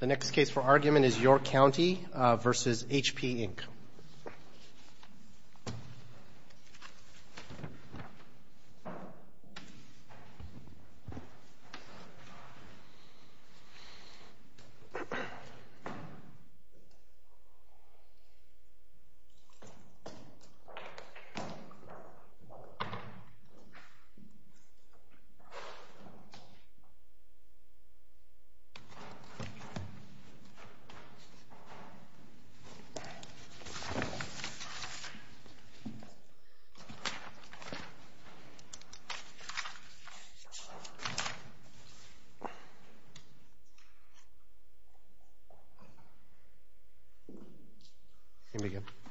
The next case for argument is York County v. HP, Inc.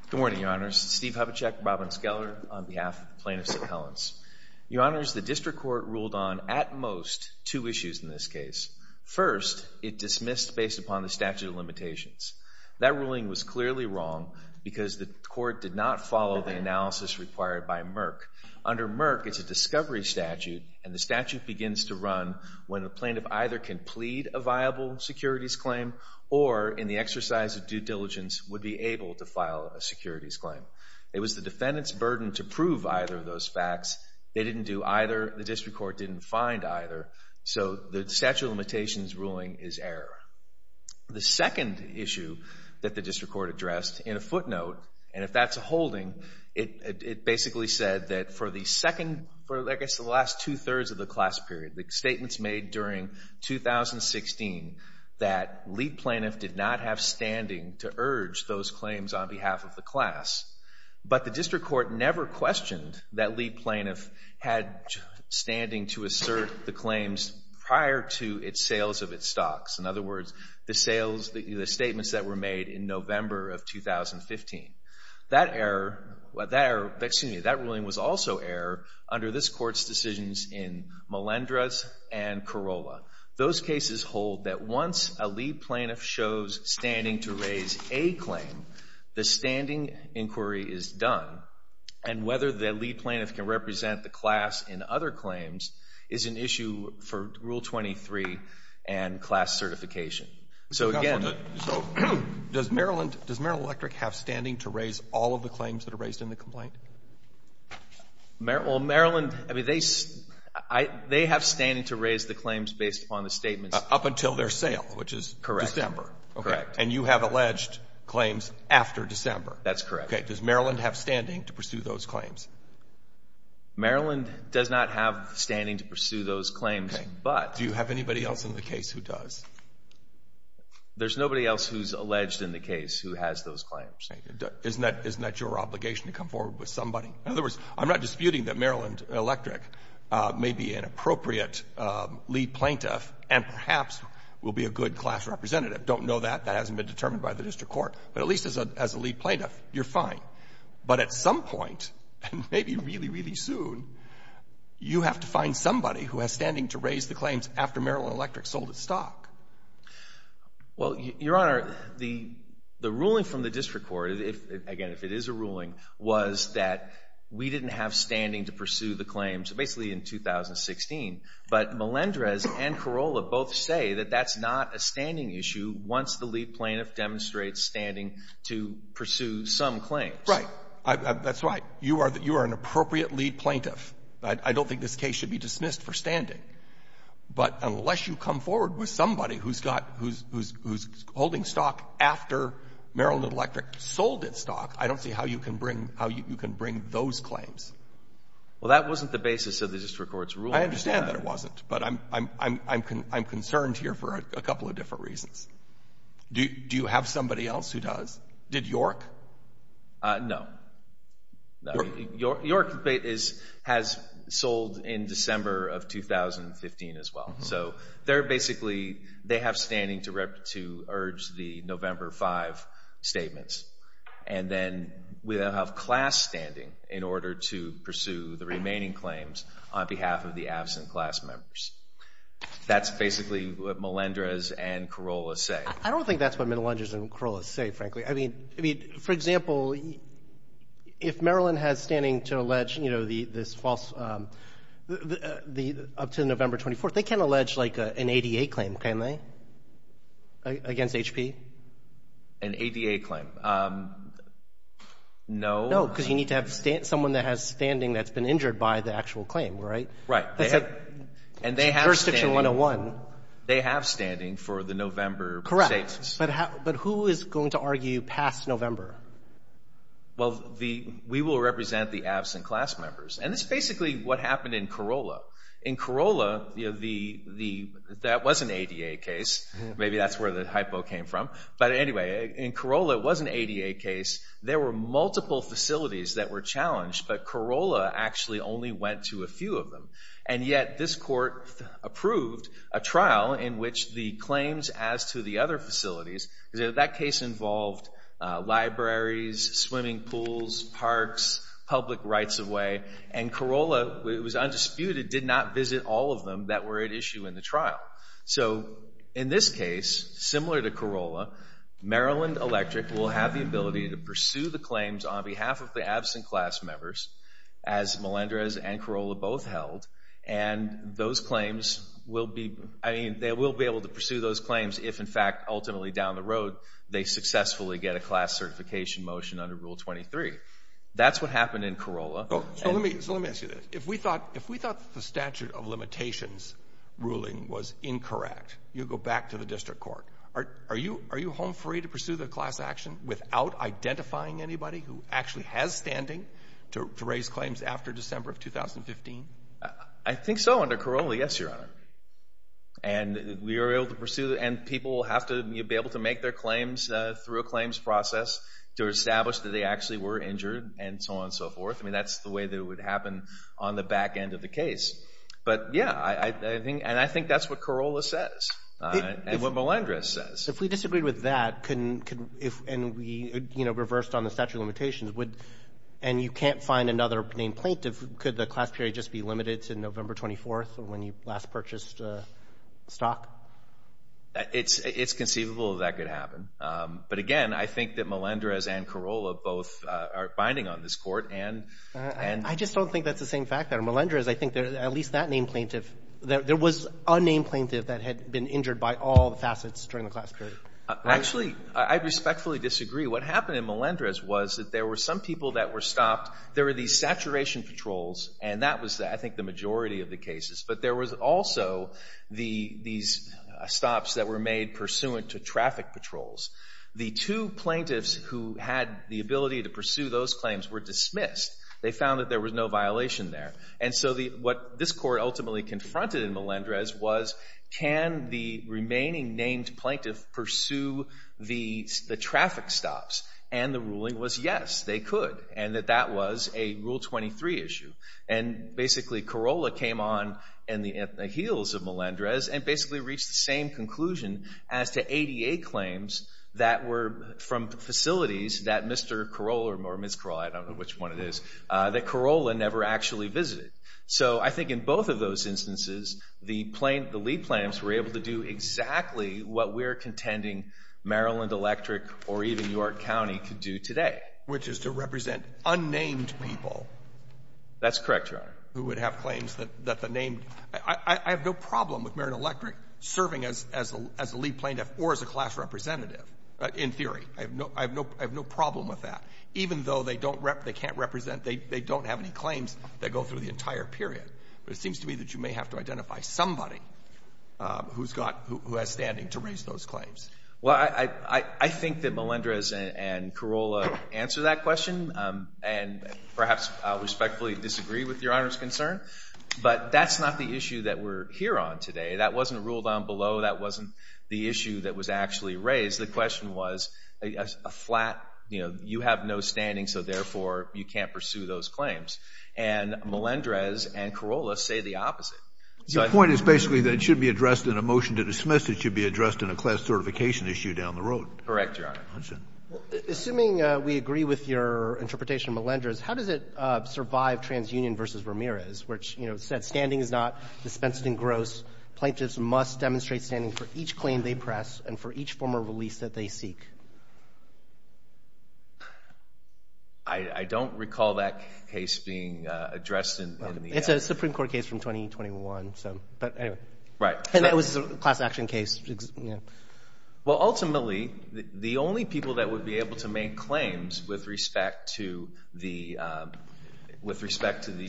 Good morning, Your Honors. Steve Hubachek, Robin Skeller, on behalf of the plaintiffs' appellants. Your Honors, the district court ruled on, at most, two issues in this case. First, it dismissed based upon the statute of limitations. That ruling was clearly wrong because the court did not follow the analysis required by Merck. Under Merck, it's a discovery statute, and the statute begins to run when the plaintiff either can plead a viable securities claim or, in the exercise of due diligence, would be able to file a securities claim. It was the defendant's burden to prove either of those facts. They didn't do either. The district court didn't find either. So the statute of limitations ruling is error. The second issue that the district court addressed, in a footnote, and if that's a holding, it basically said that for the last two-thirds of the class period, the statements made during 2016, that lead plaintiff did not have standing to urge those claims on behalf of the class, but the district court never questioned that lead plaintiff had standing to assert the claims prior to its sales of its stocks. In other words, the sales, the statements that were made in November of 2015. That error, excuse me, that ruling was also error under this court's decisions in Malendras and Corolla. Those cases hold that once a lead plaintiff shows standing to raise a claim, the standing inquiry is done, and whether the lead plaintiff can represent the class in other claims is an issue for Rule 23 and class certification. So again... So does Maryland Electric have standing to raise all of the claims that are raised in the complaint? Well, Maryland, I mean, they have standing to raise the claims based upon the statements... Up until their sale, which is December. Correct. And you have alleged claims after December. That's correct. Does Maryland have standing to pursue those claims? Maryland does not have standing to pursue those claims, but... Do you have anybody else in the case who does? There's nobody else who's alleged in the case who has those claims. Isn't that your obligation to come forward with somebody? In other words, I'm not disputing that Maryland Electric may be an appropriate lead plaintiff and perhaps will be a good class representative. Don't know that. That hasn't been determined by the district court. But at least as a lead plaintiff, you're fine. But at some point, and maybe really, really soon, you have to find somebody who has standing to raise the claims after Maryland Electric sold its stock. Well, Your Honor, the ruling from the district court, again, if it is a ruling, was that we didn't have standing to pursue the claims basically in 2016. But Melendrez and Carolla both say that that's not a standing issue once the lead plaintiff demonstrates standing to pursue some claims. Right. That's right. You are an appropriate lead plaintiff. I don't think this case should be dismissed for standing. But unless you come forward with somebody who's holding stock after Maryland Electric sold its stock, I don't see how you can bring those claims. Well, that wasn't the basis of the district court's ruling. I understand that it wasn't. But I'm concerned here for a couple of different reasons. Do you have somebody else who does? Did York? No. York has sold in December of 2015 as well. So they're basically, they have standing to urge the November 5 statements. And then we have class standing in order to pursue the remaining claims on behalf of the absent class members. That's basically what Melendrez and Carolla say. I don't think that's what Melendrez and Carolla say, frankly. I mean, for example, if Maryland has standing to allege, you know, this false, up to November 24th, they can allege like an ADA claim, can't they? Against HP? An ADA claim. No. No, because you need to have someone that has standing that's been injured by the actual claim, right? Right. And they have standing. It's jurisdiction 101. They have standing for the November statements. Correct. But who is going to argue past November? Well, we will represent the absent class members. And this is basically what happened in Carolla. In Carolla, that was an ADA case. Maybe that's where the hypo came from. But anyway, in Carolla, it was an ADA case. There were multiple facilities that were challenged, but Carolla actually only went to a few of them. And yet, this court approved a trial in which the claims as to the other facilities, because that case involved libraries, swimming pools, parks, public rights of way. And Carolla, it was undisputed, did not visit all of them that were at issue in the trial. So in this case, similar to Carolla, Maryland Electric will have the ability to pursue the And those claims will be, I mean, they will be able to pursue those claims if, in fact, ultimately down the road, they successfully get a class certification motion under Rule 23. That's what happened in Carolla. So let me ask you this. If we thought the statute of limitations ruling was incorrect, you go back to the district court. Are you home free to pursue the class action without identifying anybody who actually has standing to raise claims after December of 2015? I think so under Carolla, yes, Your Honor. And we are able to pursue, and people will have to be able to make their claims through a claims process to establish that they actually were injured and so on and so forth. I mean, that's the way that it would happen on the back end of the case. But yeah, I think, and I think that's what Carolla says and what Melendrez says. So if we disagreed with that, and we, you know, reversed on the statute of limitations, would, and you can't find another named plaintiff, could the class period just be limited to November 24th when you last purchased stock? It's conceivable that that could happen. But, again, I think that Melendrez and Carolla both are binding on this Court. And I just don't think that's the same fact that Melendrez, I think, at least that named plaintiff, there was a named plaintiff that had been injured by all facets during the class period. Actually, I respectfully disagree. What happened in Melendrez was that there were some people that were stopped. There were these saturation patrols, and that was, I think, the majority of the cases. But there was also these stops that were made pursuant to traffic patrols. The two plaintiffs who had the ability to pursue those claims were dismissed. They found that there was no violation there. And so what this Court ultimately confronted in Melendrez was can the remaining named plaintiff pursue the traffic stops? And the ruling was yes, they could, and that that was a Rule 23 issue. And basically, Carolla came on in the heels of Melendrez and basically reached the same conclusion as to ADA claims that were from facilities that Mr. Carolla, or Ms. Carolla, I don't know which one it is, that Carolla never actually visited. So I think in both of those instances, the lead plaintiffs were able to do exactly what we're contending Maryland Electric or even York County could do today. Which is to represent unnamed people. That's correct, Your Honor. Who would have claims that the named — I have no problem with Maryland Electric serving as a lead plaintiff or as a class representative, in theory. I have no problem with that. Even though they don't — they can't represent — they don't have any claims that go through the entire period. But it seems to me that you may have to identify somebody who's got — who has standing to raise those claims. Well, I think that Melendrez and Carolla answered that question and perhaps respectfully disagree with Your Honor's concern. But that's not the issue that we're here on today. That wasn't a rule down below. That wasn't the issue that was actually raised. The question was a flat — you know, you have no standing, so therefore you can't pursue those claims. And Melendrez and Carolla say the opposite. So I think — Your point is basically that it should be addressed in a motion to dismiss. It should be addressed in a class certification issue down the road. Correct, Your Honor. I understand. Assuming we agree with your interpretation of Melendrez, how does it survive TransUnion v. Ramirez, which, you know, said standing is not dispensed in gross. Plaintiffs must demonstrate standing for each claim they press and for each form of release that they seek. I don't recall that case being addressed in the — It's a Supreme Court case from 2021, so — but anyway. Right. And that was a class action case. Well, ultimately, the only people that would be able to make claims with respect to the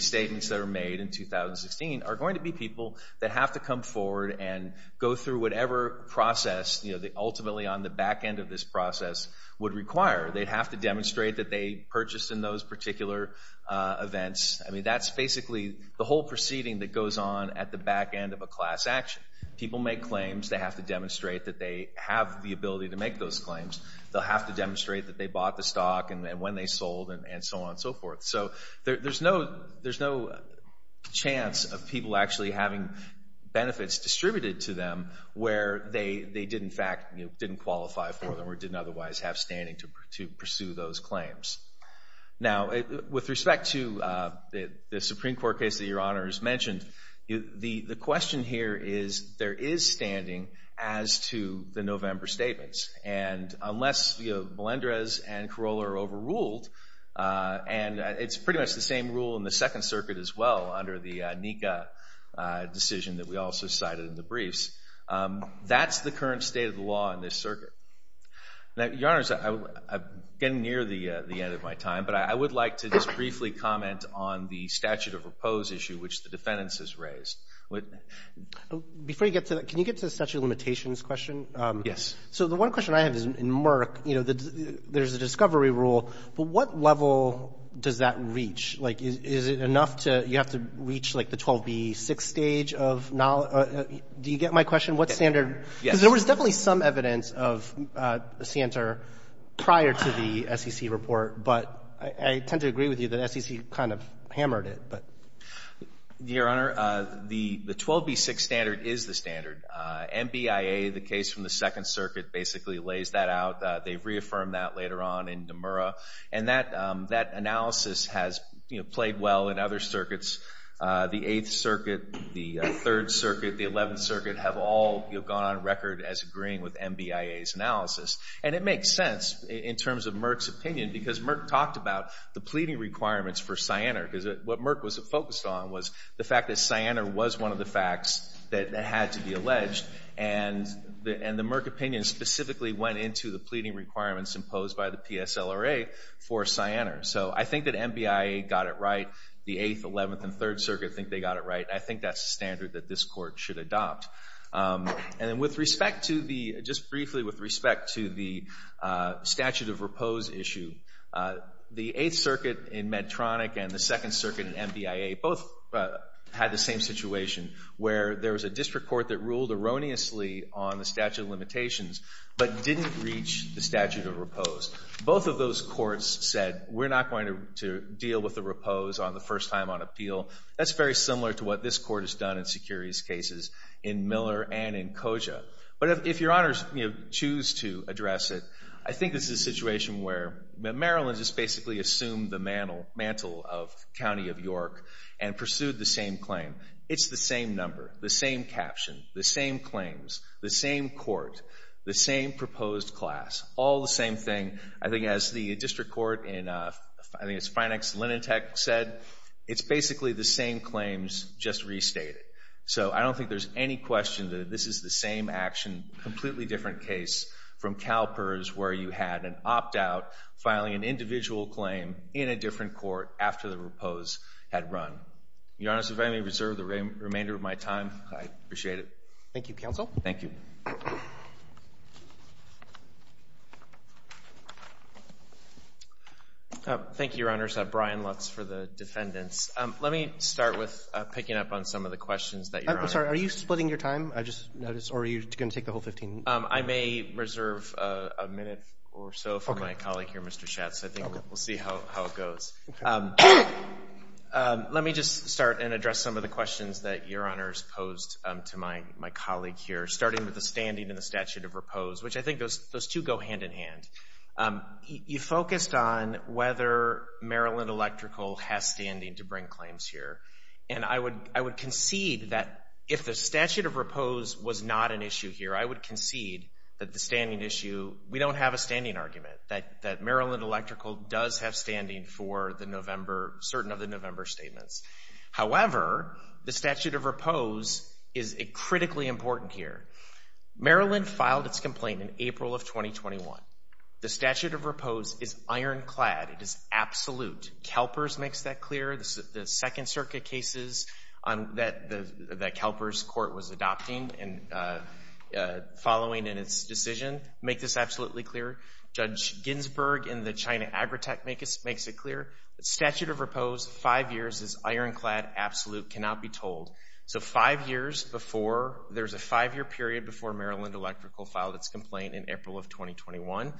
statements that are made in 2016 are going to be people that have to come forward and go through whatever process, you know, the — ultimately on the back end of this process would require. They'd have to demonstrate that they purchased in those particular events. I mean, that's basically the whole proceeding that goes on at the back end of a class action. People make claims. They have to demonstrate that they have the ability to make those claims. They'll have to demonstrate that they bought the stock and when they sold and so on and so forth. So there's no — there's no chance of people actually having benefits distributed to them where they did, in fact, you know, didn't qualify for them or didn't otherwise have standing to pursue those claims. Now, with respect to the Supreme Court case that Your Honor has mentioned, the question here is there is standing as to the November statements. And unless, you know, Melendrez and Carolla are overruled, and it's pretty much the same rule in the Second Circuit as well under the NICA decision that we also cited in the briefs, that's the current state of the law in this circuit. Now, Your Honors, I'm getting near the end of my time, but I would like to just briefly comment on the statute of repose issue which the defendants has raised. Before you get to that, can you get to the statute of limitations question? Yes. So the one question I have is, in Merck, you know, there's a discovery rule, but what level does that reach? Like, is it enough to — you have to reach, like, the 12b-6 stage of — do you get my question? What standard — Yes. Because there was definitely some evidence of SANTOR prior to the SEC report, but I tend to agree with you that SEC kind of hammered it, but — Your Honor, the 12b-6 standard is the standard. MBIA, the case from the Second Circuit, basically lays that out. They've reaffirmed that later on in Demura, and that analysis has, you know, played well in other circuits. The Eighth Circuit, the Third Circuit, the Eleventh Circuit have all, you know, gone on record as agreeing with MBIA's analysis. And it makes sense in terms of Merck's opinion because Merck talked about the pleading requirements for SANTOR because what Merck was focused on was the fact that SANTOR was one of the alleged, and the Merck opinion specifically went into the pleading requirements imposed by the PSLRA for SANTOR. So I think that MBIA got it right. The Eighth, Eleventh, and Third Circuit think they got it right. I think that's a standard that this Court should adopt. And then with respect to the — just briefly with respect to the statute of repose issue, the Eighth Circuit in Medtronic and the Second Circuit in MBIA both had the same situation where there was a district court that ruled erroneously on the statute of limitations but didn't reach the statute of repose. Both of those courts said, we're not going to deal with the repose on the first time on appeal. That's very similar to what this Court has done in Securius cases in Miller and in Koja. But if Your Honors, you know, choose to address it, I think this is a situation where Maryland just basically assumed the mantle of County of York and pursued the same claim. It's the same number, the same caption, the same claims, the same court, the same proposed class, all the same thing. I think as the district court in — I think it's Finex-Lenentech said, it's basically the same claims, just restated. So I don't think there's any question that this is the same action, completely different case from CalPERS where you had an opt-out filing an individual claim in a different court after the repose had run. Your Honors, if I may reserve the remainder of my time, I appreciate it. Thank you, Counsel. Thank you. Thank you, Your Honors. Brian Lutz for the defendants. Let me start with picking up on some of the questions that Your Honor — I'm sorry, are you splitting your time? I just noticed. Or are you going to take the whole 15 minutes? I may reserve a minute or so for my colleague here, Mr. Schatz. I think we'll see how it goes. Let me just start and address some of the questions that Your Honors posed to my colleague here, starting with the standing in the statute of repose, which I think those two go hand in hand. You focused on whether Maryland Electrical has standing to bring claims here. And I would concede that if the statute of repose was not an issue here, I would concede that the standing issue — we don't have a standing argument that Maryland Electrical does have standing for the November — certain of the November statements. However, the statute of repose is critically important here. Maryland filed its complaint in April of 2021. The statute of repose is ironclad. It is absolute. Kelpers makes that clear. The Second Circuit cases that Kelpers Court was adopting and following in its decision make this absolutely clear. Judge Ginsburg in the China Agritech makes it clear. Statute of repose, five years, is ironclad, absolute, cannot be told. So five years before — there's a five-year period before Maryland Electrical filed its complaint in April of 2021,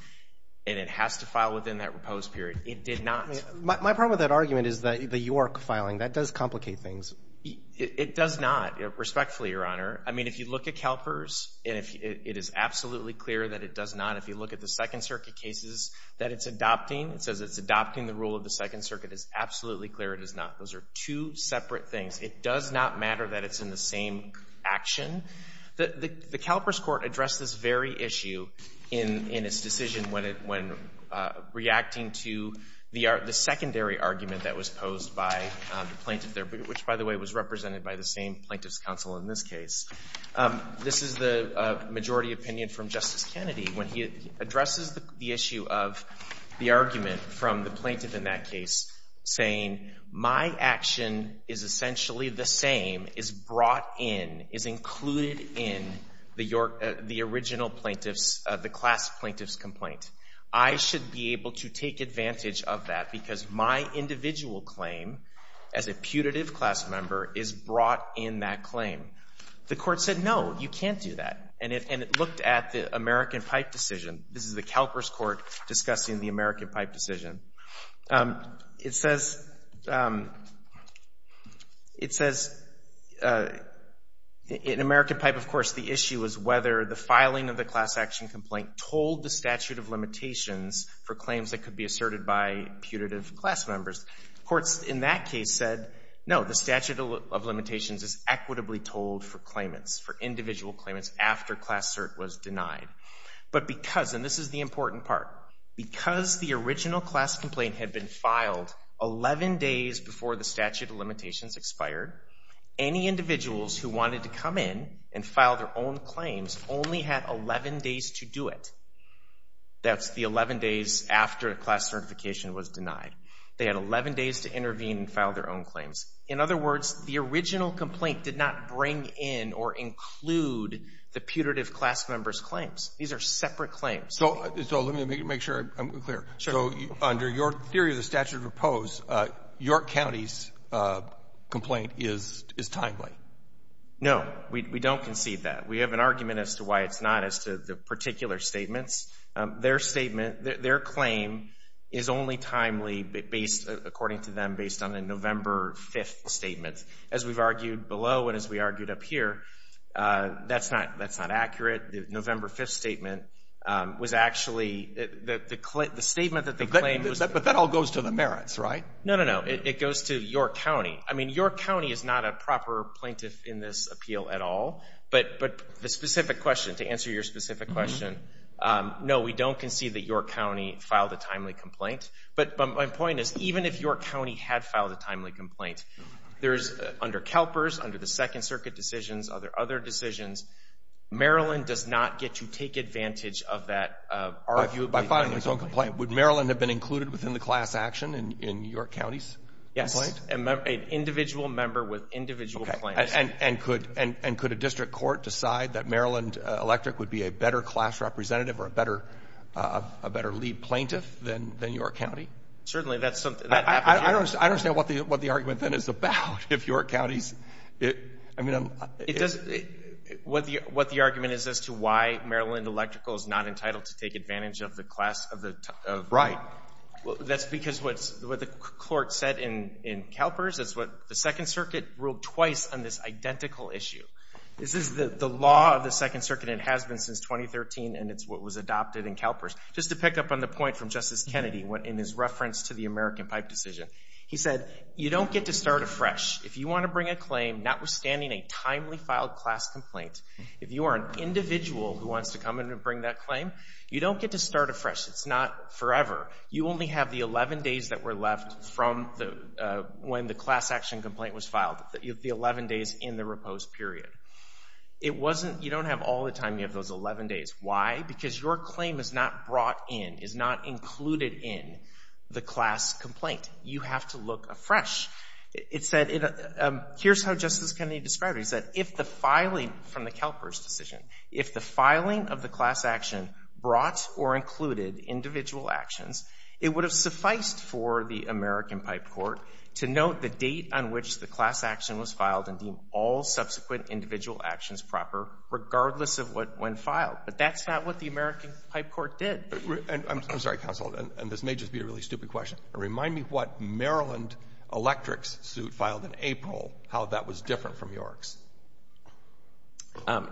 and it has to file within that repose period. It did not — My problem with that argument is the York filing. That does complicate things. It does not, respectfully, Your Honor. I mean, if you look at Kelpers, it is absolutely clear that it does not. If you look at the Second Circuit cases that it's adopting, it says it's adopting the rule of the Second Circuit. It's absolutely clear it is not. Those are two separate things. It does not matter that it's in the same action. The Kelpers Court addressed this very issue in its decision when reacting to the secondary argument that was posed by the plaintiff there, which, by the way, was represented by the same plaintiff's counsel in this case. This is the majority opinion from Justice Kennedy when he addresses the issue of the argument from the plaintiff in that case, saying, my action is essentially the same, is brought in, is included in the original plaintiff's — the class plaintiff's complaint. I should be able to take advantage of that because my individual claim as a putative class member is brought in that claim. The Court said, no, you can't do that. And it looked at the American Pipe decision. This is the Kelpers Court discussing the American Pipe decision. It says — it says in American Pipe, of course, the issue was whether the filing of the class action complaint told the statute of limitations for claims that could be asserted by putative class members. The courts in that case said, no, the statute of limitations is equitably told for claimants, for individual claimants after class cert was denied. But because — and this is the important part — because the original class complaint had been filed 11 days before the statute of limitations expired, any individuals who wanted to come in and file their own claims only had 11 days to do it. That's the 11 days after a class certification was denied. They had 11 days to intervene and file their own claims. In other words, the original complaint did not bring in or include the putative class member's claims. These are separate claims. So — so let me make sure I'm clear. Sure. So under your theory of the statute of oppose, your county's complaint is — is timely? No. We don't concede that. We have an argument as to why it's not, as to the particular statements. Their statement — their claim is only timely based — according to them, based on a November 5th statement. As we've argued below and as we argued up here, that's not — that's not accurate. The November 5th statement was actually — the statement that they claimed was — But that all goes to the merits, right? No, no, no. It goes to your county. I mean, your county is not a proper plaintiff in this appeal at all. But the specific question — to answer your specific question, no, we don't concede that your county filed a timely complaint. But my point is, even if your county had filed a timely complaint, there's — under CalPERS, under the Second Circuit decisions, other decisions, Maryland does not get to take advantage of that — By filing its own complaint, would Maryland have been included within the class action in your county's complaint? Yes. An individual member with individual claims. And could — and could a district court decide that Maryland Electric would be a better class representative or a better — a better lead plaintiff than your county? Certainly. That's something — I don't — I don't understand what the argument, then, is about if your county's — I mean, I'm — It doesn't — what the — what the argument is as to why Maryland Electrical is not entitled to take advantage of the class of the — Right. Well, that's because what's — what the court said in CalPERS, it's what — the Second issue. This is the law of the Second Circuit and has been since 2013, and it's what was adopted in CalPERS. Just to pick up on the point from Justice Kennedy in his reference to the American Pipe decision, he said, you don't get to start afresh. If you want to bring a claim, notwithstanding a timely filed class complaint, if you are an individual who wants to come in and bring that claim, you don't get to start afresh. It's not forever. You only have the 11 days that were left from the — when the class action complaint was in the repose period. It wasn't — you don't have all the time. You have those 11 days. Why? Because your claim is not brought in, is not included in the class complaint. You have to look afresh. It said — here's how Justice Kennedy described it. He said, if the filing from the CalPERS decision, if the filing of the class action brought or included individual actions, it would have sufficed for the American Pipe Court to note the date on which the class action was filed and deem all subsequent individual actions proper, regardless of when filed. But that's not what the American Pipe Court did. I'm sorry, counsel, and this may just be a really stupid question, but remind me what Maryland Electric's suit filed in April, how that was different from York's.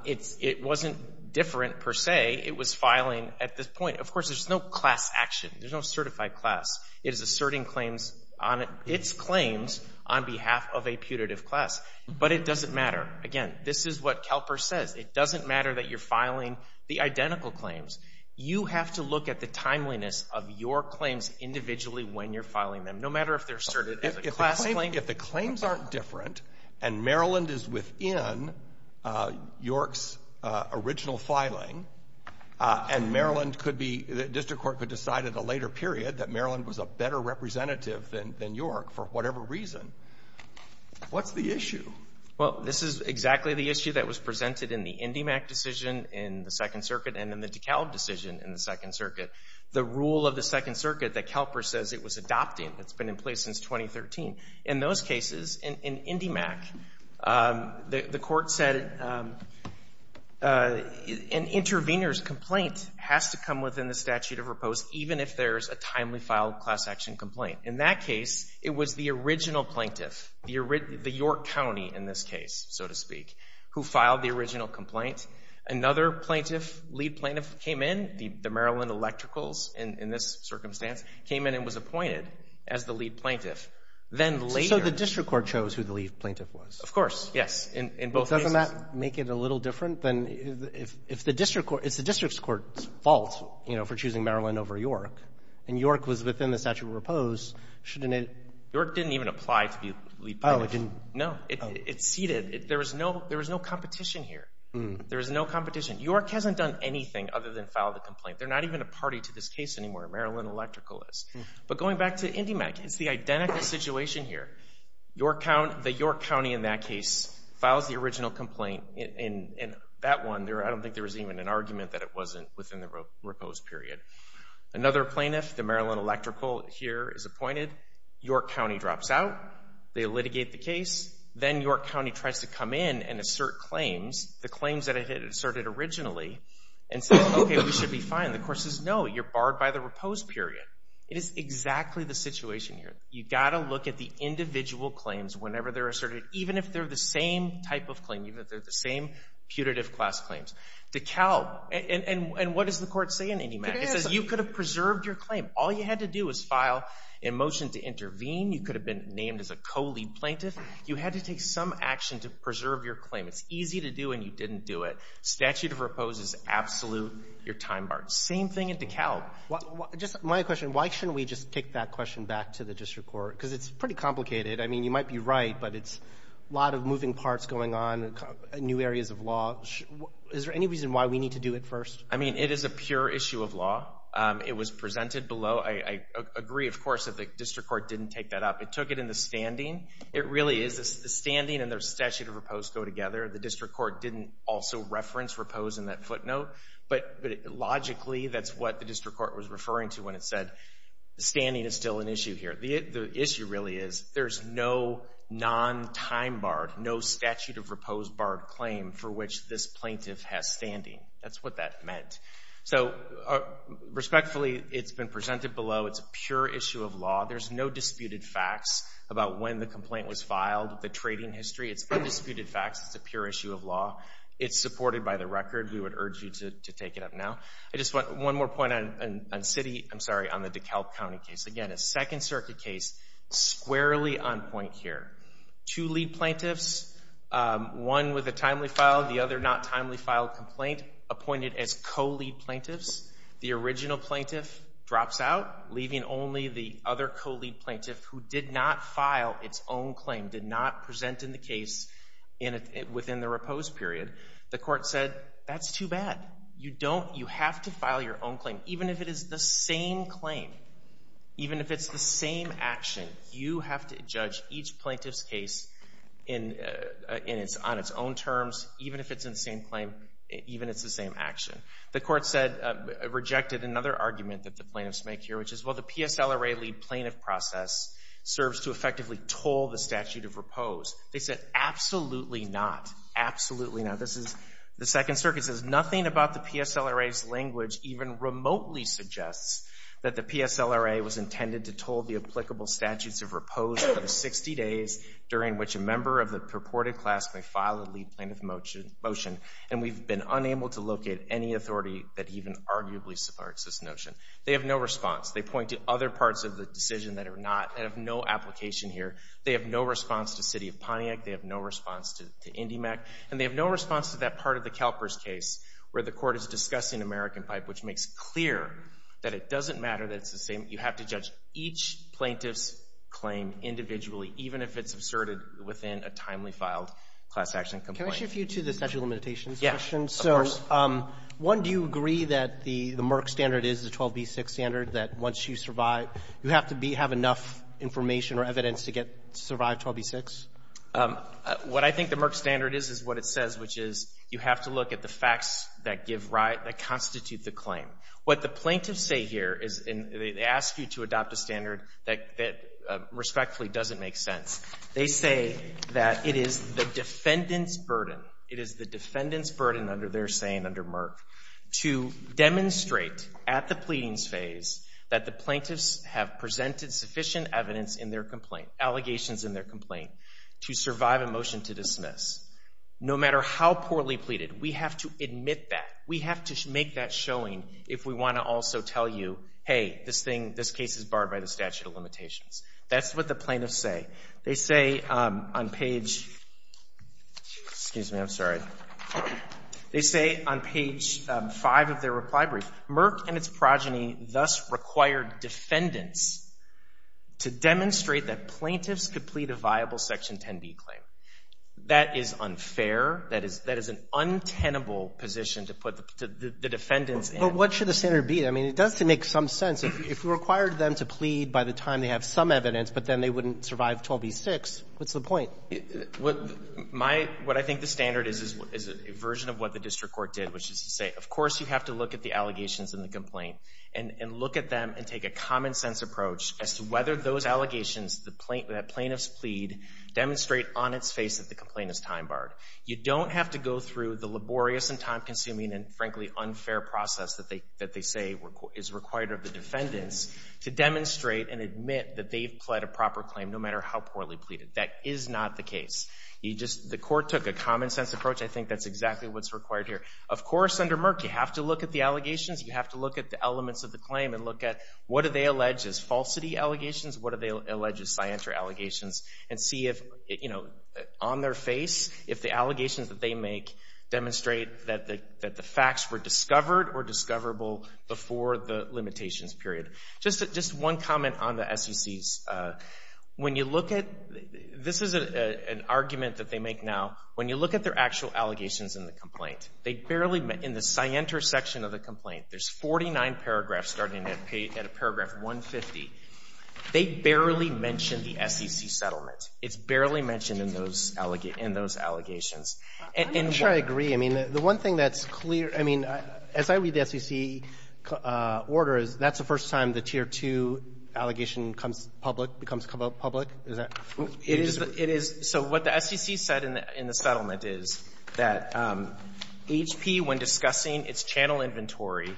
It wasn't different, per se. It was filing at this point — of course, there's no class action, there's no certified class. It is asserting claims on — its claims on behalf of a putative class. But it doesn't matter. Again, this is what CalPERS says. It doesn't matter that you're filing the identical claims. You have to look at the timeliness of your claims individually when you're filing them, no matter if they're asserted as a class claim. If the claims aren't different, and Maryland is within York's original filing, and Maryland could be — the district court could decide at a later period that Maryland was a better representative than York for whatever reason, what's the issue? Well, this is exactly the issue that was presented in the IndyMac decision in the Second Circuit and in the DeKalb decision in the Second Circuit. The rule of the Second Circuit that CalPERS says it was adopting that's been in place since 2013. In those cases, in IndyMac, the court said an intervener's complaint has to come within the statute of repose, even if there's a timely filed class action complaint. In that case, it was the original plaintiff, the York County in this case, so to speak, who filed the original complaint. Another plaintiff, lead plaintiff, came in, the Maryland Electricals in this circumstance, came in and was appointed as the lead plaintiff. Then later — So the district court chose who the lead plaintiff was? Of course. Yes. In both cases. Doesn't that make it a little different? Then if the district court — it's the district court's fault, you know, for choosing Maryland over York, and York was within the statute of repose, shouldn't it — York didn't even apply to be lead plaintiff. Oh, it didn't — No. It ceded. There was no — there was no competition here. There was no competition. York hasn't done anything other than file the complaint. They're not even a party to this case anymore. Maryland Electrical is. But going back to IndyMac, it's the identical situation here. The York County in that case files the original complaint, and that one, I don't think there was even an argument that it wasn't within the repose period. Another plaintiff, the Maryland Electrical here is appointed, York County drops out, they litigate the case, then York County tries to come in and assert claims, the claims that it had asserted originally, and says, okay, we should be fine. The court says, no, you're barred by the repose period. It is exactly the situation here. You've got to look at the individual claims whenever they're asserted, even if they're the same type of claim, even if they're the same putative class claims. DeKalb, and what does the court say in IndyMac? It says you could have preserved your claim. All you had to do was file a motion to intervene. You could have been named as a co-lead plaintiff. You had to take some action to preserve your claim. It's easy to do, and you didn't do it. Statute of repose is absolute, you're time barred. Same thing in DeKalb. Just my question, why shouldn't we just take that question back to the district court? Because it's pretty complicated. I mean, you might be right, but it's a lot of moving parts going on, new areas of law. Is there any reason why we need to do it first? I mean, it is a pure issue of law. It was presented below. I agree, of course, that the district court didn't take that up. It took it in the standing. It really is the standing and the statute of repose go together. The district court didn't also reference repose in that footnote, but logically, that's what the district court was referring to when it said, standing is still an issue here. The issue really is there's no non-time barred, no statute of repose barred claim for which this plaintiff has standing. That's what that meant. So respectfully, it's been presented below. It's a pure issue of law. There's no disputed facts about when the complaint was filed, the trading history. It's undisputed facts. It's a pure issue of law. It's supported by the record. We would urge you to take it up now. I just want one more point on city, I'm sorry, on the DeKalb County case. Again, a Second Circuit case, squarely on point here. Two lead plaintiffs, one with a timely file, the other not timely file complaint, appointed as co-lead plaintiffs. The original plaintiff drops out, leaving only the other co-lead plaintiff who did not present in the case within the repose period. The court said, that's too bad. You don't, you have to file your own claim. Even if it is the same claim, even if it's the same action, you have to judge each plaintiff's case on its own terms, even if it's in the same claim, even if it's the same action. The court said, rejected another argument that the plaintiffs make here, which is, well, a PSLRA lead plaintiff process serves to effectively toll the statute of repose. They said, absolutely not, absolutely not. This is, the Second Circuit says, nothing about the PSLRA's language even remotely suggests that the PSLRA was intended to toll the applicable statutes of repose for the 60 days during which a member of the purported class may file a lead plaintiff motion, and we've been unable to locate any authority that even arguably supports this notion. They have no response. They point to other parts of the decision that are not, that have no application here. They have no response to City of Pontiac. They have no response to IndyMEC. And they have no response to that part of the CalPERS case where the court is discussing American Pipe, which makes clear that it doesn't matter that it's the same. You have to judge each plaintiff's claim individually, even if it's asserted within a timely filed class action complaint. Yeah, of course. One, do you agree that the Merck standard is the 12b6 standard, that once you survive, you have to be, have enough information or evidence to get, survive 12b6? What I think the Merck standard is, is what it says, which is, you have to look at the facts that give, that constitute the claim. What the plaintiffs say here is, and they ask you to adopt a standard that respectfully doesn't make sense. They say that it is the defendant's burden, it is the defendant's burden under their saying under Merck, to demonstrate at the pleadings phase that the plaintiffs have presented sufficient evidence in their complaint, allegations in their complaint, to survive a motion to dismiss. No matter how poorly pleaded, we have to admit that. We have to make that showing if we want to also tell you, hey, this thing, this case is barred by the statute of limitations. That's what the plaintiffs say. They say on page, excuse me, I'm sorry. They say on page 5 of their reply brief, Merck and its progeny thus required defendants to demonstrate that plaintiffs could plead a viable Section 10b claim. That is unfair. That is, that is an untenable position to put the defendants in. Well, what should the standard be? I mean, it does make some sense. If you required them to plead by the time they have some evidence, but then they wouldn't survive 12b-6, what's the point? My — what I think the standard is, is a version of what the district court did, which is to say, of course you have to look at the allegations in the complaint and look at them and take a common-sense approach as to whether those allegations that plaintiffs plead demonstrate on its face that the complaint is time-barred. You don't have to go through the laborious and time-consuming and, frankly, unfair process that they say is required of the defendants to demonstrate and admit that they've pled a proper claim, no matter how poorly pleaded. That is not the case. You just — the court took a common-sense approach. I think that's exactly what's required here. Of course, under Merck, you have to look at the allegations. You have to look at the elements of the claim and look at what do they allege as falsity allegations, what do they allege as scienter allegations, and see if, you know, on their face, if the allegations that they make demonstrate that the claim is time-barred or discoverable before the limitations period. Just one comment on the SECs. When you look at — this is an argument that they make now. When you look at their actual allegations in the complaint, they barely — in the scienter section of the complaint, there's 49 paragraphs starting at a paragraph 150. They barely mention the SEC settlement. It's barely mentioned in those allegations. I'm sure I agree. I mean, the one thing that's clear — I mean, as I read the SEC order, that's the first time the Tier 2 allegation comes public, becomes public? Is that — It is. So what the SEC said in the settlement is that HP, when discussing its channel inventory,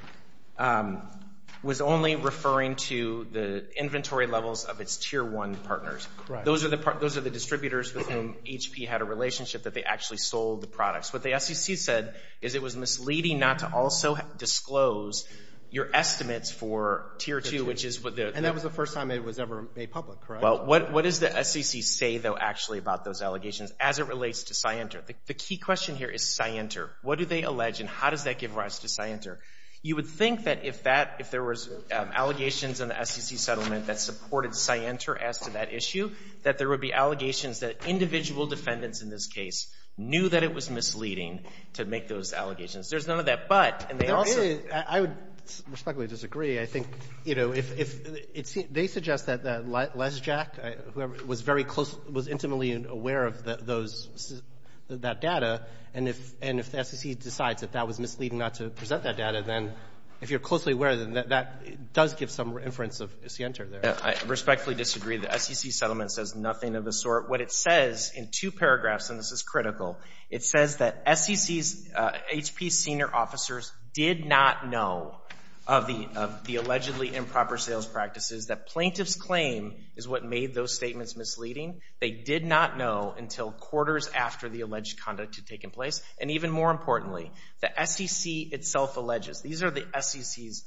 was only referring to the inventory levels of its Tier 1 partners. Right. Those are the distributors with whom HP had a relationship that they actually sold the products. What the SEC said is it was misleading not to also disclose your estimates for Tier 2, which is what the — And that was the first time it was ever made public, correct? Well, what does the SEC say, though, actually, about those allegations as it relates to scienter? The key question here is scienter. What do they allege, and how does that give rise to scienter? You would think that if that — if there was allegations in the SEC settlement that supported scienter as to that issue, that there would be allegations that individual defendants in this case knew that it was misleading to make those allegations. There's none of that. But — I would respectfully disagree. I think, you know, if — they suggest that Les Jack, whoever — was very close — was intimately aware of those — that data, and if the SEC decides that that was misleading not to present that data, then if you're closely aware, then that does give some inference of scienter there. I respectfully disagree. The SEC settlement says nothing of the sort. What it says in two paragraphs — and this is critical — it says that SEC's HP senior officers did not know of the allegedly improper sales practices, that plaintiff's claim is what made those statements misleading. They did not know until quarters after the alleged conduct had taken place. And even more importantly, the SEC itself alleges — these are the SEC's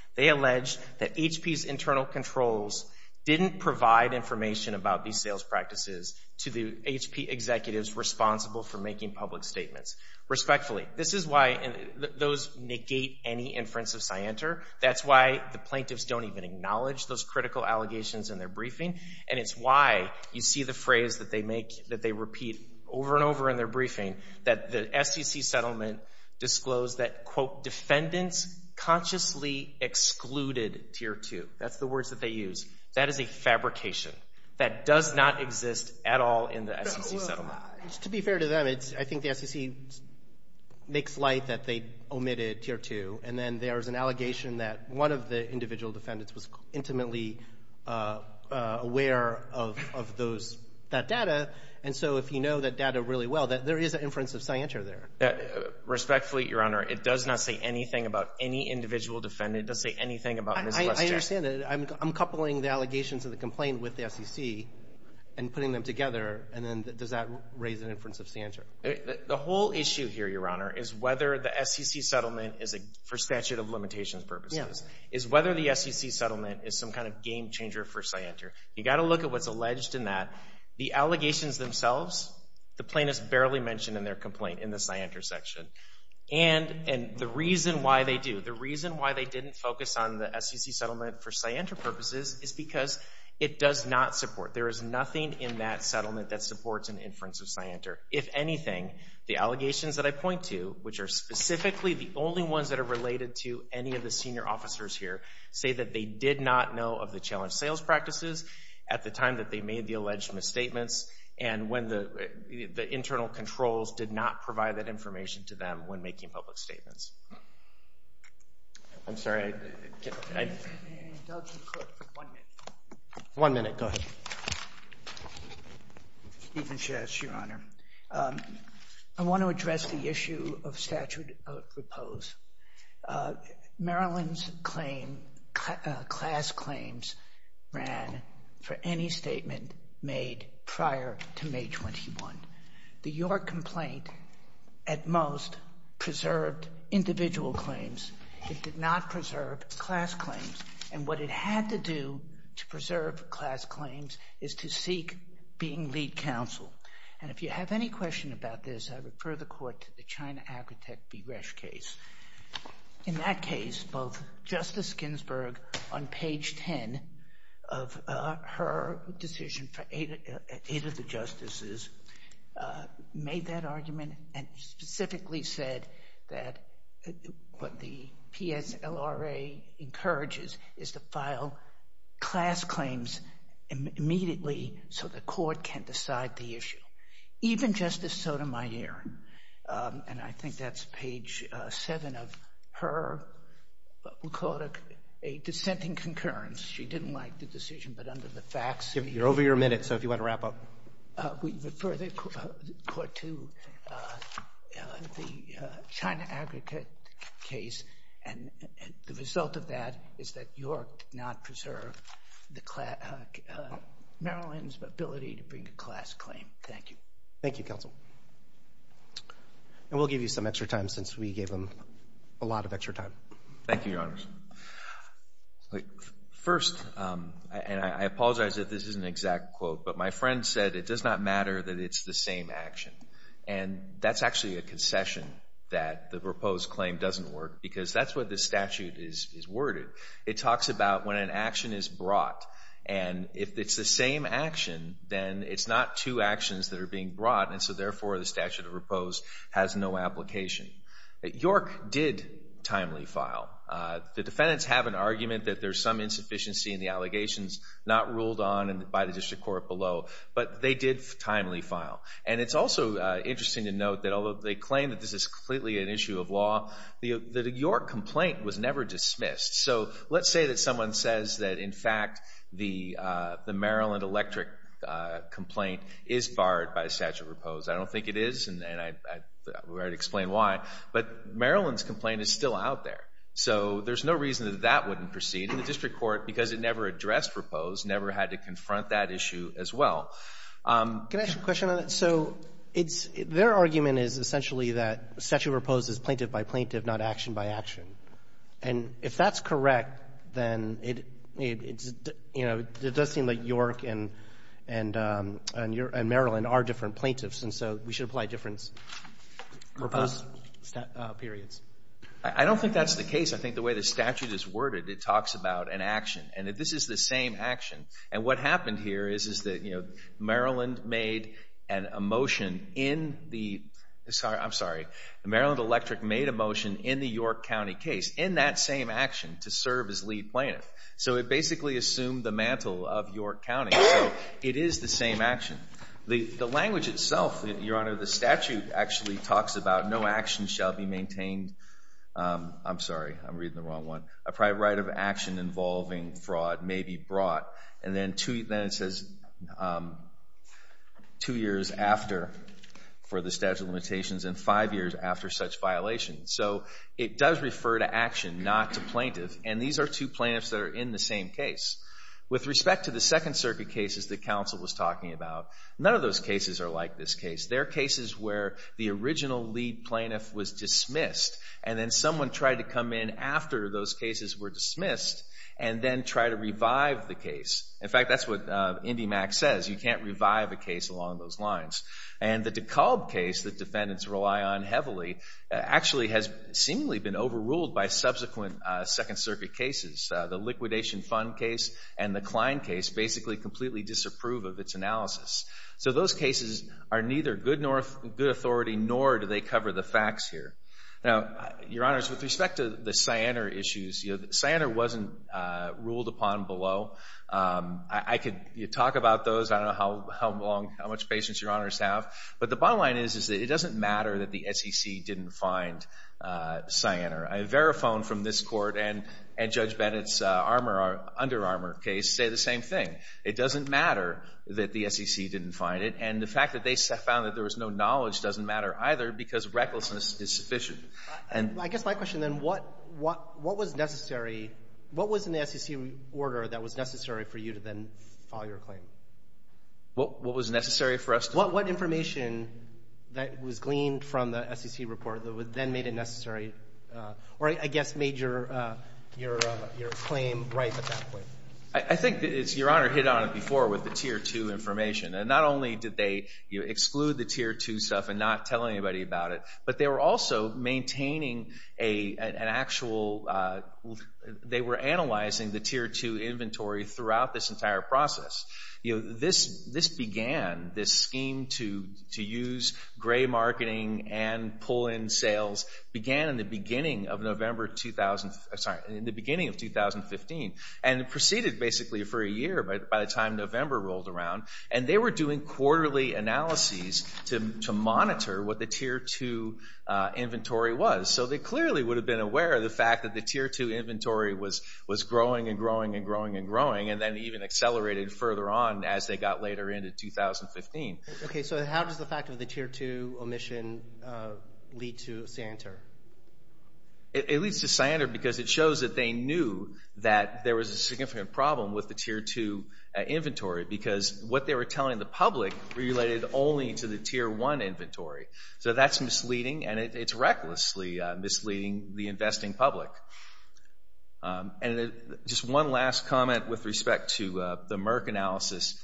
— they allege that HP's internal controls didn't provide information about these sales practices to the HP executives responsible for making public statements. Respectfully, this is why those negate any inference of scienter. That's why the plaintiffs don't even acknowledge those critical allegations in their briefing. And it's why you see the phrase that they make — that they repeat over and over in their briefing, that the SEC settlement disclosed that, quote, defendants consciously excluded Tier 2. That's the words that they use. That is a fabrication. That does not exist at all in the SEC settlement. To be fair to them, I think the SEC makes light that they omitted Tier 2, and then there's an allegation that one of the individual defendants was intimately aware of that data. And so if you know that data really well, there is an inference of scienter there. Respectfully, Your Honor, it does not say anything about any individual defendant. It doesn't say anything about Ms. Westjack. I understand that. I'm coupling the allegations of the complaint with the SEC and putting them together, and then does that raise an inference of scienter? The whole issue here, Your Honor, is whether the SEC settlement is, for statute of limitations purposes, is whether the SEC settlement is some kind of game changer for scienter. You've got to look at what's alleged in that. The allegations themselves, the plaintiffs barely mention in their scienter section. And the reason why they do, the reason why they didn't focus on the SEC settlement for scienter purposes is because it does not support. There is nothing in that settlement that supports an inference of scienter. If anything, the allegations that I point to, which are specifically the only ones that are related to any of the senior officers here, say that they did not know of the challenge sales practices at the time that they made the alleged misstatements and when the internal controls did not provide that information to them when making public statements. I'm sorry. I can't. Can I indulge you for one minute? One minute. Go ahead. Stephen Shess, Your Honor. I want to address the issue of statute of repose. Maryland's claim, class claims, ran for any statement made prior to May 21. The York complaint at most preserved individual claims. It did not preserve class claims. And what it had to do to preserve class claims is to seek being lead counsel. And if you have any question about this, I refer the court to the China Agritech v. Resch case. In that case, both Justice Ginsburg on page 10 of her decision for eight of the justices made that argument and specifically said that what the PSLRA encourages is to file class claims immediately so the court can decide the issue. Even Justice Sotomayor, and I think that's page seven of her, we'll call it a dissenting concurrence. She didn't like the decision but under the facts. You're over your minute. So if you want to wrap up. We refer the court to the China Agritech case and the result of that is that York did not preserve Maryland's ability to bring a class claim. Thank you. Thank you, counsel. And we'll give you some extra time since we gave them a lot of extra time. Thank you, Your Honors. First, and I apologize that this isn't an exact quote, but my friend said it does not matter that it's the same action. And that's actually a concession that the proposed claim doesn't work because that's what the statute is worded. It talks about when an action is brought. And if it's the same action, then it's not two actions that are being brought and so, therefore, the statute of proposed has no application. York did timely file. The defendants have an argument that there's some insufficiency in the allegations not ruled on by the district court below, but they did timely file. And it's also interesting to note that although they claim that this is completely an issue of law, the York complaint was never dismissed. So let's say that someone says that, in fact, the Maryland electric complaint is barred by the statute of proposed. I don't think it is, and we already explained why. But Maryland's complaint is still out there. So there's no reason that that wouldn't proceed. And the district court, because it never addressed proposed, never had to confront that issue as well. Can I ask you a question on that? So their argument is essentially that statute of proposed is plaintiff by plaintiff, not action by action. And if that's correct, then it does seem like York and Maryland are different plaintiffs, and so we should apply different proposed periods. I don't think that's the case. I think the way the statute is worded, it talks about an action. And this is the same action. And what happened here is that Maryland made a motion in the York County case, in that same action, to serve as lead plaintiff. So it basically assumed the mantle of York County. So it is the same action. The language itself, Your Honor, the statute actually talks about no action shall be maintained. I'm sorry. I'm reading the wrong one. A private right of action involving fraud may be brought. And then it says two years after for the statute of limitations and five years after such violation. So it does refer to action, not to plaintiff. And these are two plaintiffs that are in the same case. With respect to the Second Circuit cases that counsel was talking about, none of those cases are like this case. They're cases where the original lead plaintiff was dismissed, and then someone tried to come in after those cases were dismissed and then try to revive the case. In fact, that's what IndyMac says. You can't revive a case along those lines. And the DeKalb case that defendants rely on heavily actually has seemingly been overruled by subsequent Second Circuit cases. The Liquidation Fund case and the Klein case basically completely disapprove of its analysis. So those cases are neither good authority nor do they cover the facts here. Now, Your Honors, with respect to the Cyanar issues, Cyanar wasn't ruled upon below. I could talk about those. I don't know how much patience Your Honors have. But the bottom line is that it doesn't matter that the SEC didn't find Cyanar. Verifone from this Court and Judge Bennett's Under Armour case say the same thing. It doesn't matter that the SEC didn't find it. And the fact that they found that there was no knowledge doesn't matter either because recklessness is sufficient. I guess my question then, what was necessary? What was in the SEC order that was necessary for you to then file your claim? What was necessary for us to do? What information that was gleaned from the SEC report that then made it necessary or, I guess, made your claim right at that point? I think, Your Honor, it hit on it before with the Tier 2 information. Not only did they exclude the Tier 2 stuff and not tell anybody about it, but they were also maintaining an actual – they were analyzing the Tier 2 inventory throughout this entire process. This began, this scheme to use gray marketing and pull in sales, began in the beginning of November 2015 and proceeded basically for a year by the time November rolled around. And they were doing quarterly analyses to monitor what the Tier 2 inventory was. So they clearly would have been aware of the fact that the Tier 2 inventory was growing and growing and growing and growing and then even accelerated further on as they got later into 2015. Okay, so how does the fact of the Tier 2 omission lead to a scienter? It leads to scienter because it shows that they knew that there was a significant problem with the Tier 2 inventory because what they were telling the public related only to the Tier 1 inventory. So that's misleading and it's recklessly misleading the investing public. And just one last comment with respect to the Merck analysis.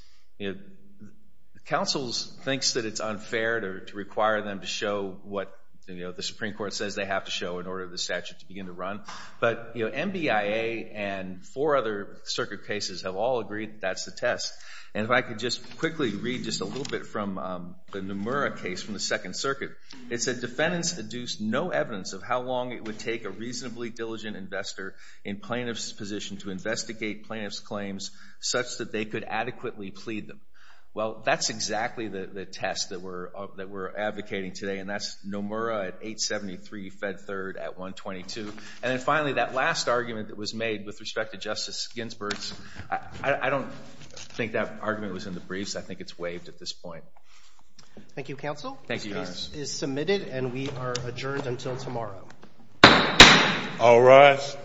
Councils thinks that it's unfair to require them to show what the Supreme Court says they have to show in order for the statute to begin to run. But NBIA and four other circuit cases have all agreed that's the test. And if I could just quickly read just a little bit from the Nomura case from the Second Circuit. It said defendants deduced no evidence of how long it would take a reasonably diligent investor in plaintiff's position to investigate plaintiff's claims such that they could adequately plead them. Well, that's exactly the test that we're advocating today and that's Nomura at 873 Fed Third at 122. And then finally that last argument that was made with respect to Justice Ginsburg's. I don't think that argument was in the briefs. I think it's waived at this point. Thank you, Counsel. Thank you, Your Honor. The case is submitted and we are adjourned until tomorrow. All rise.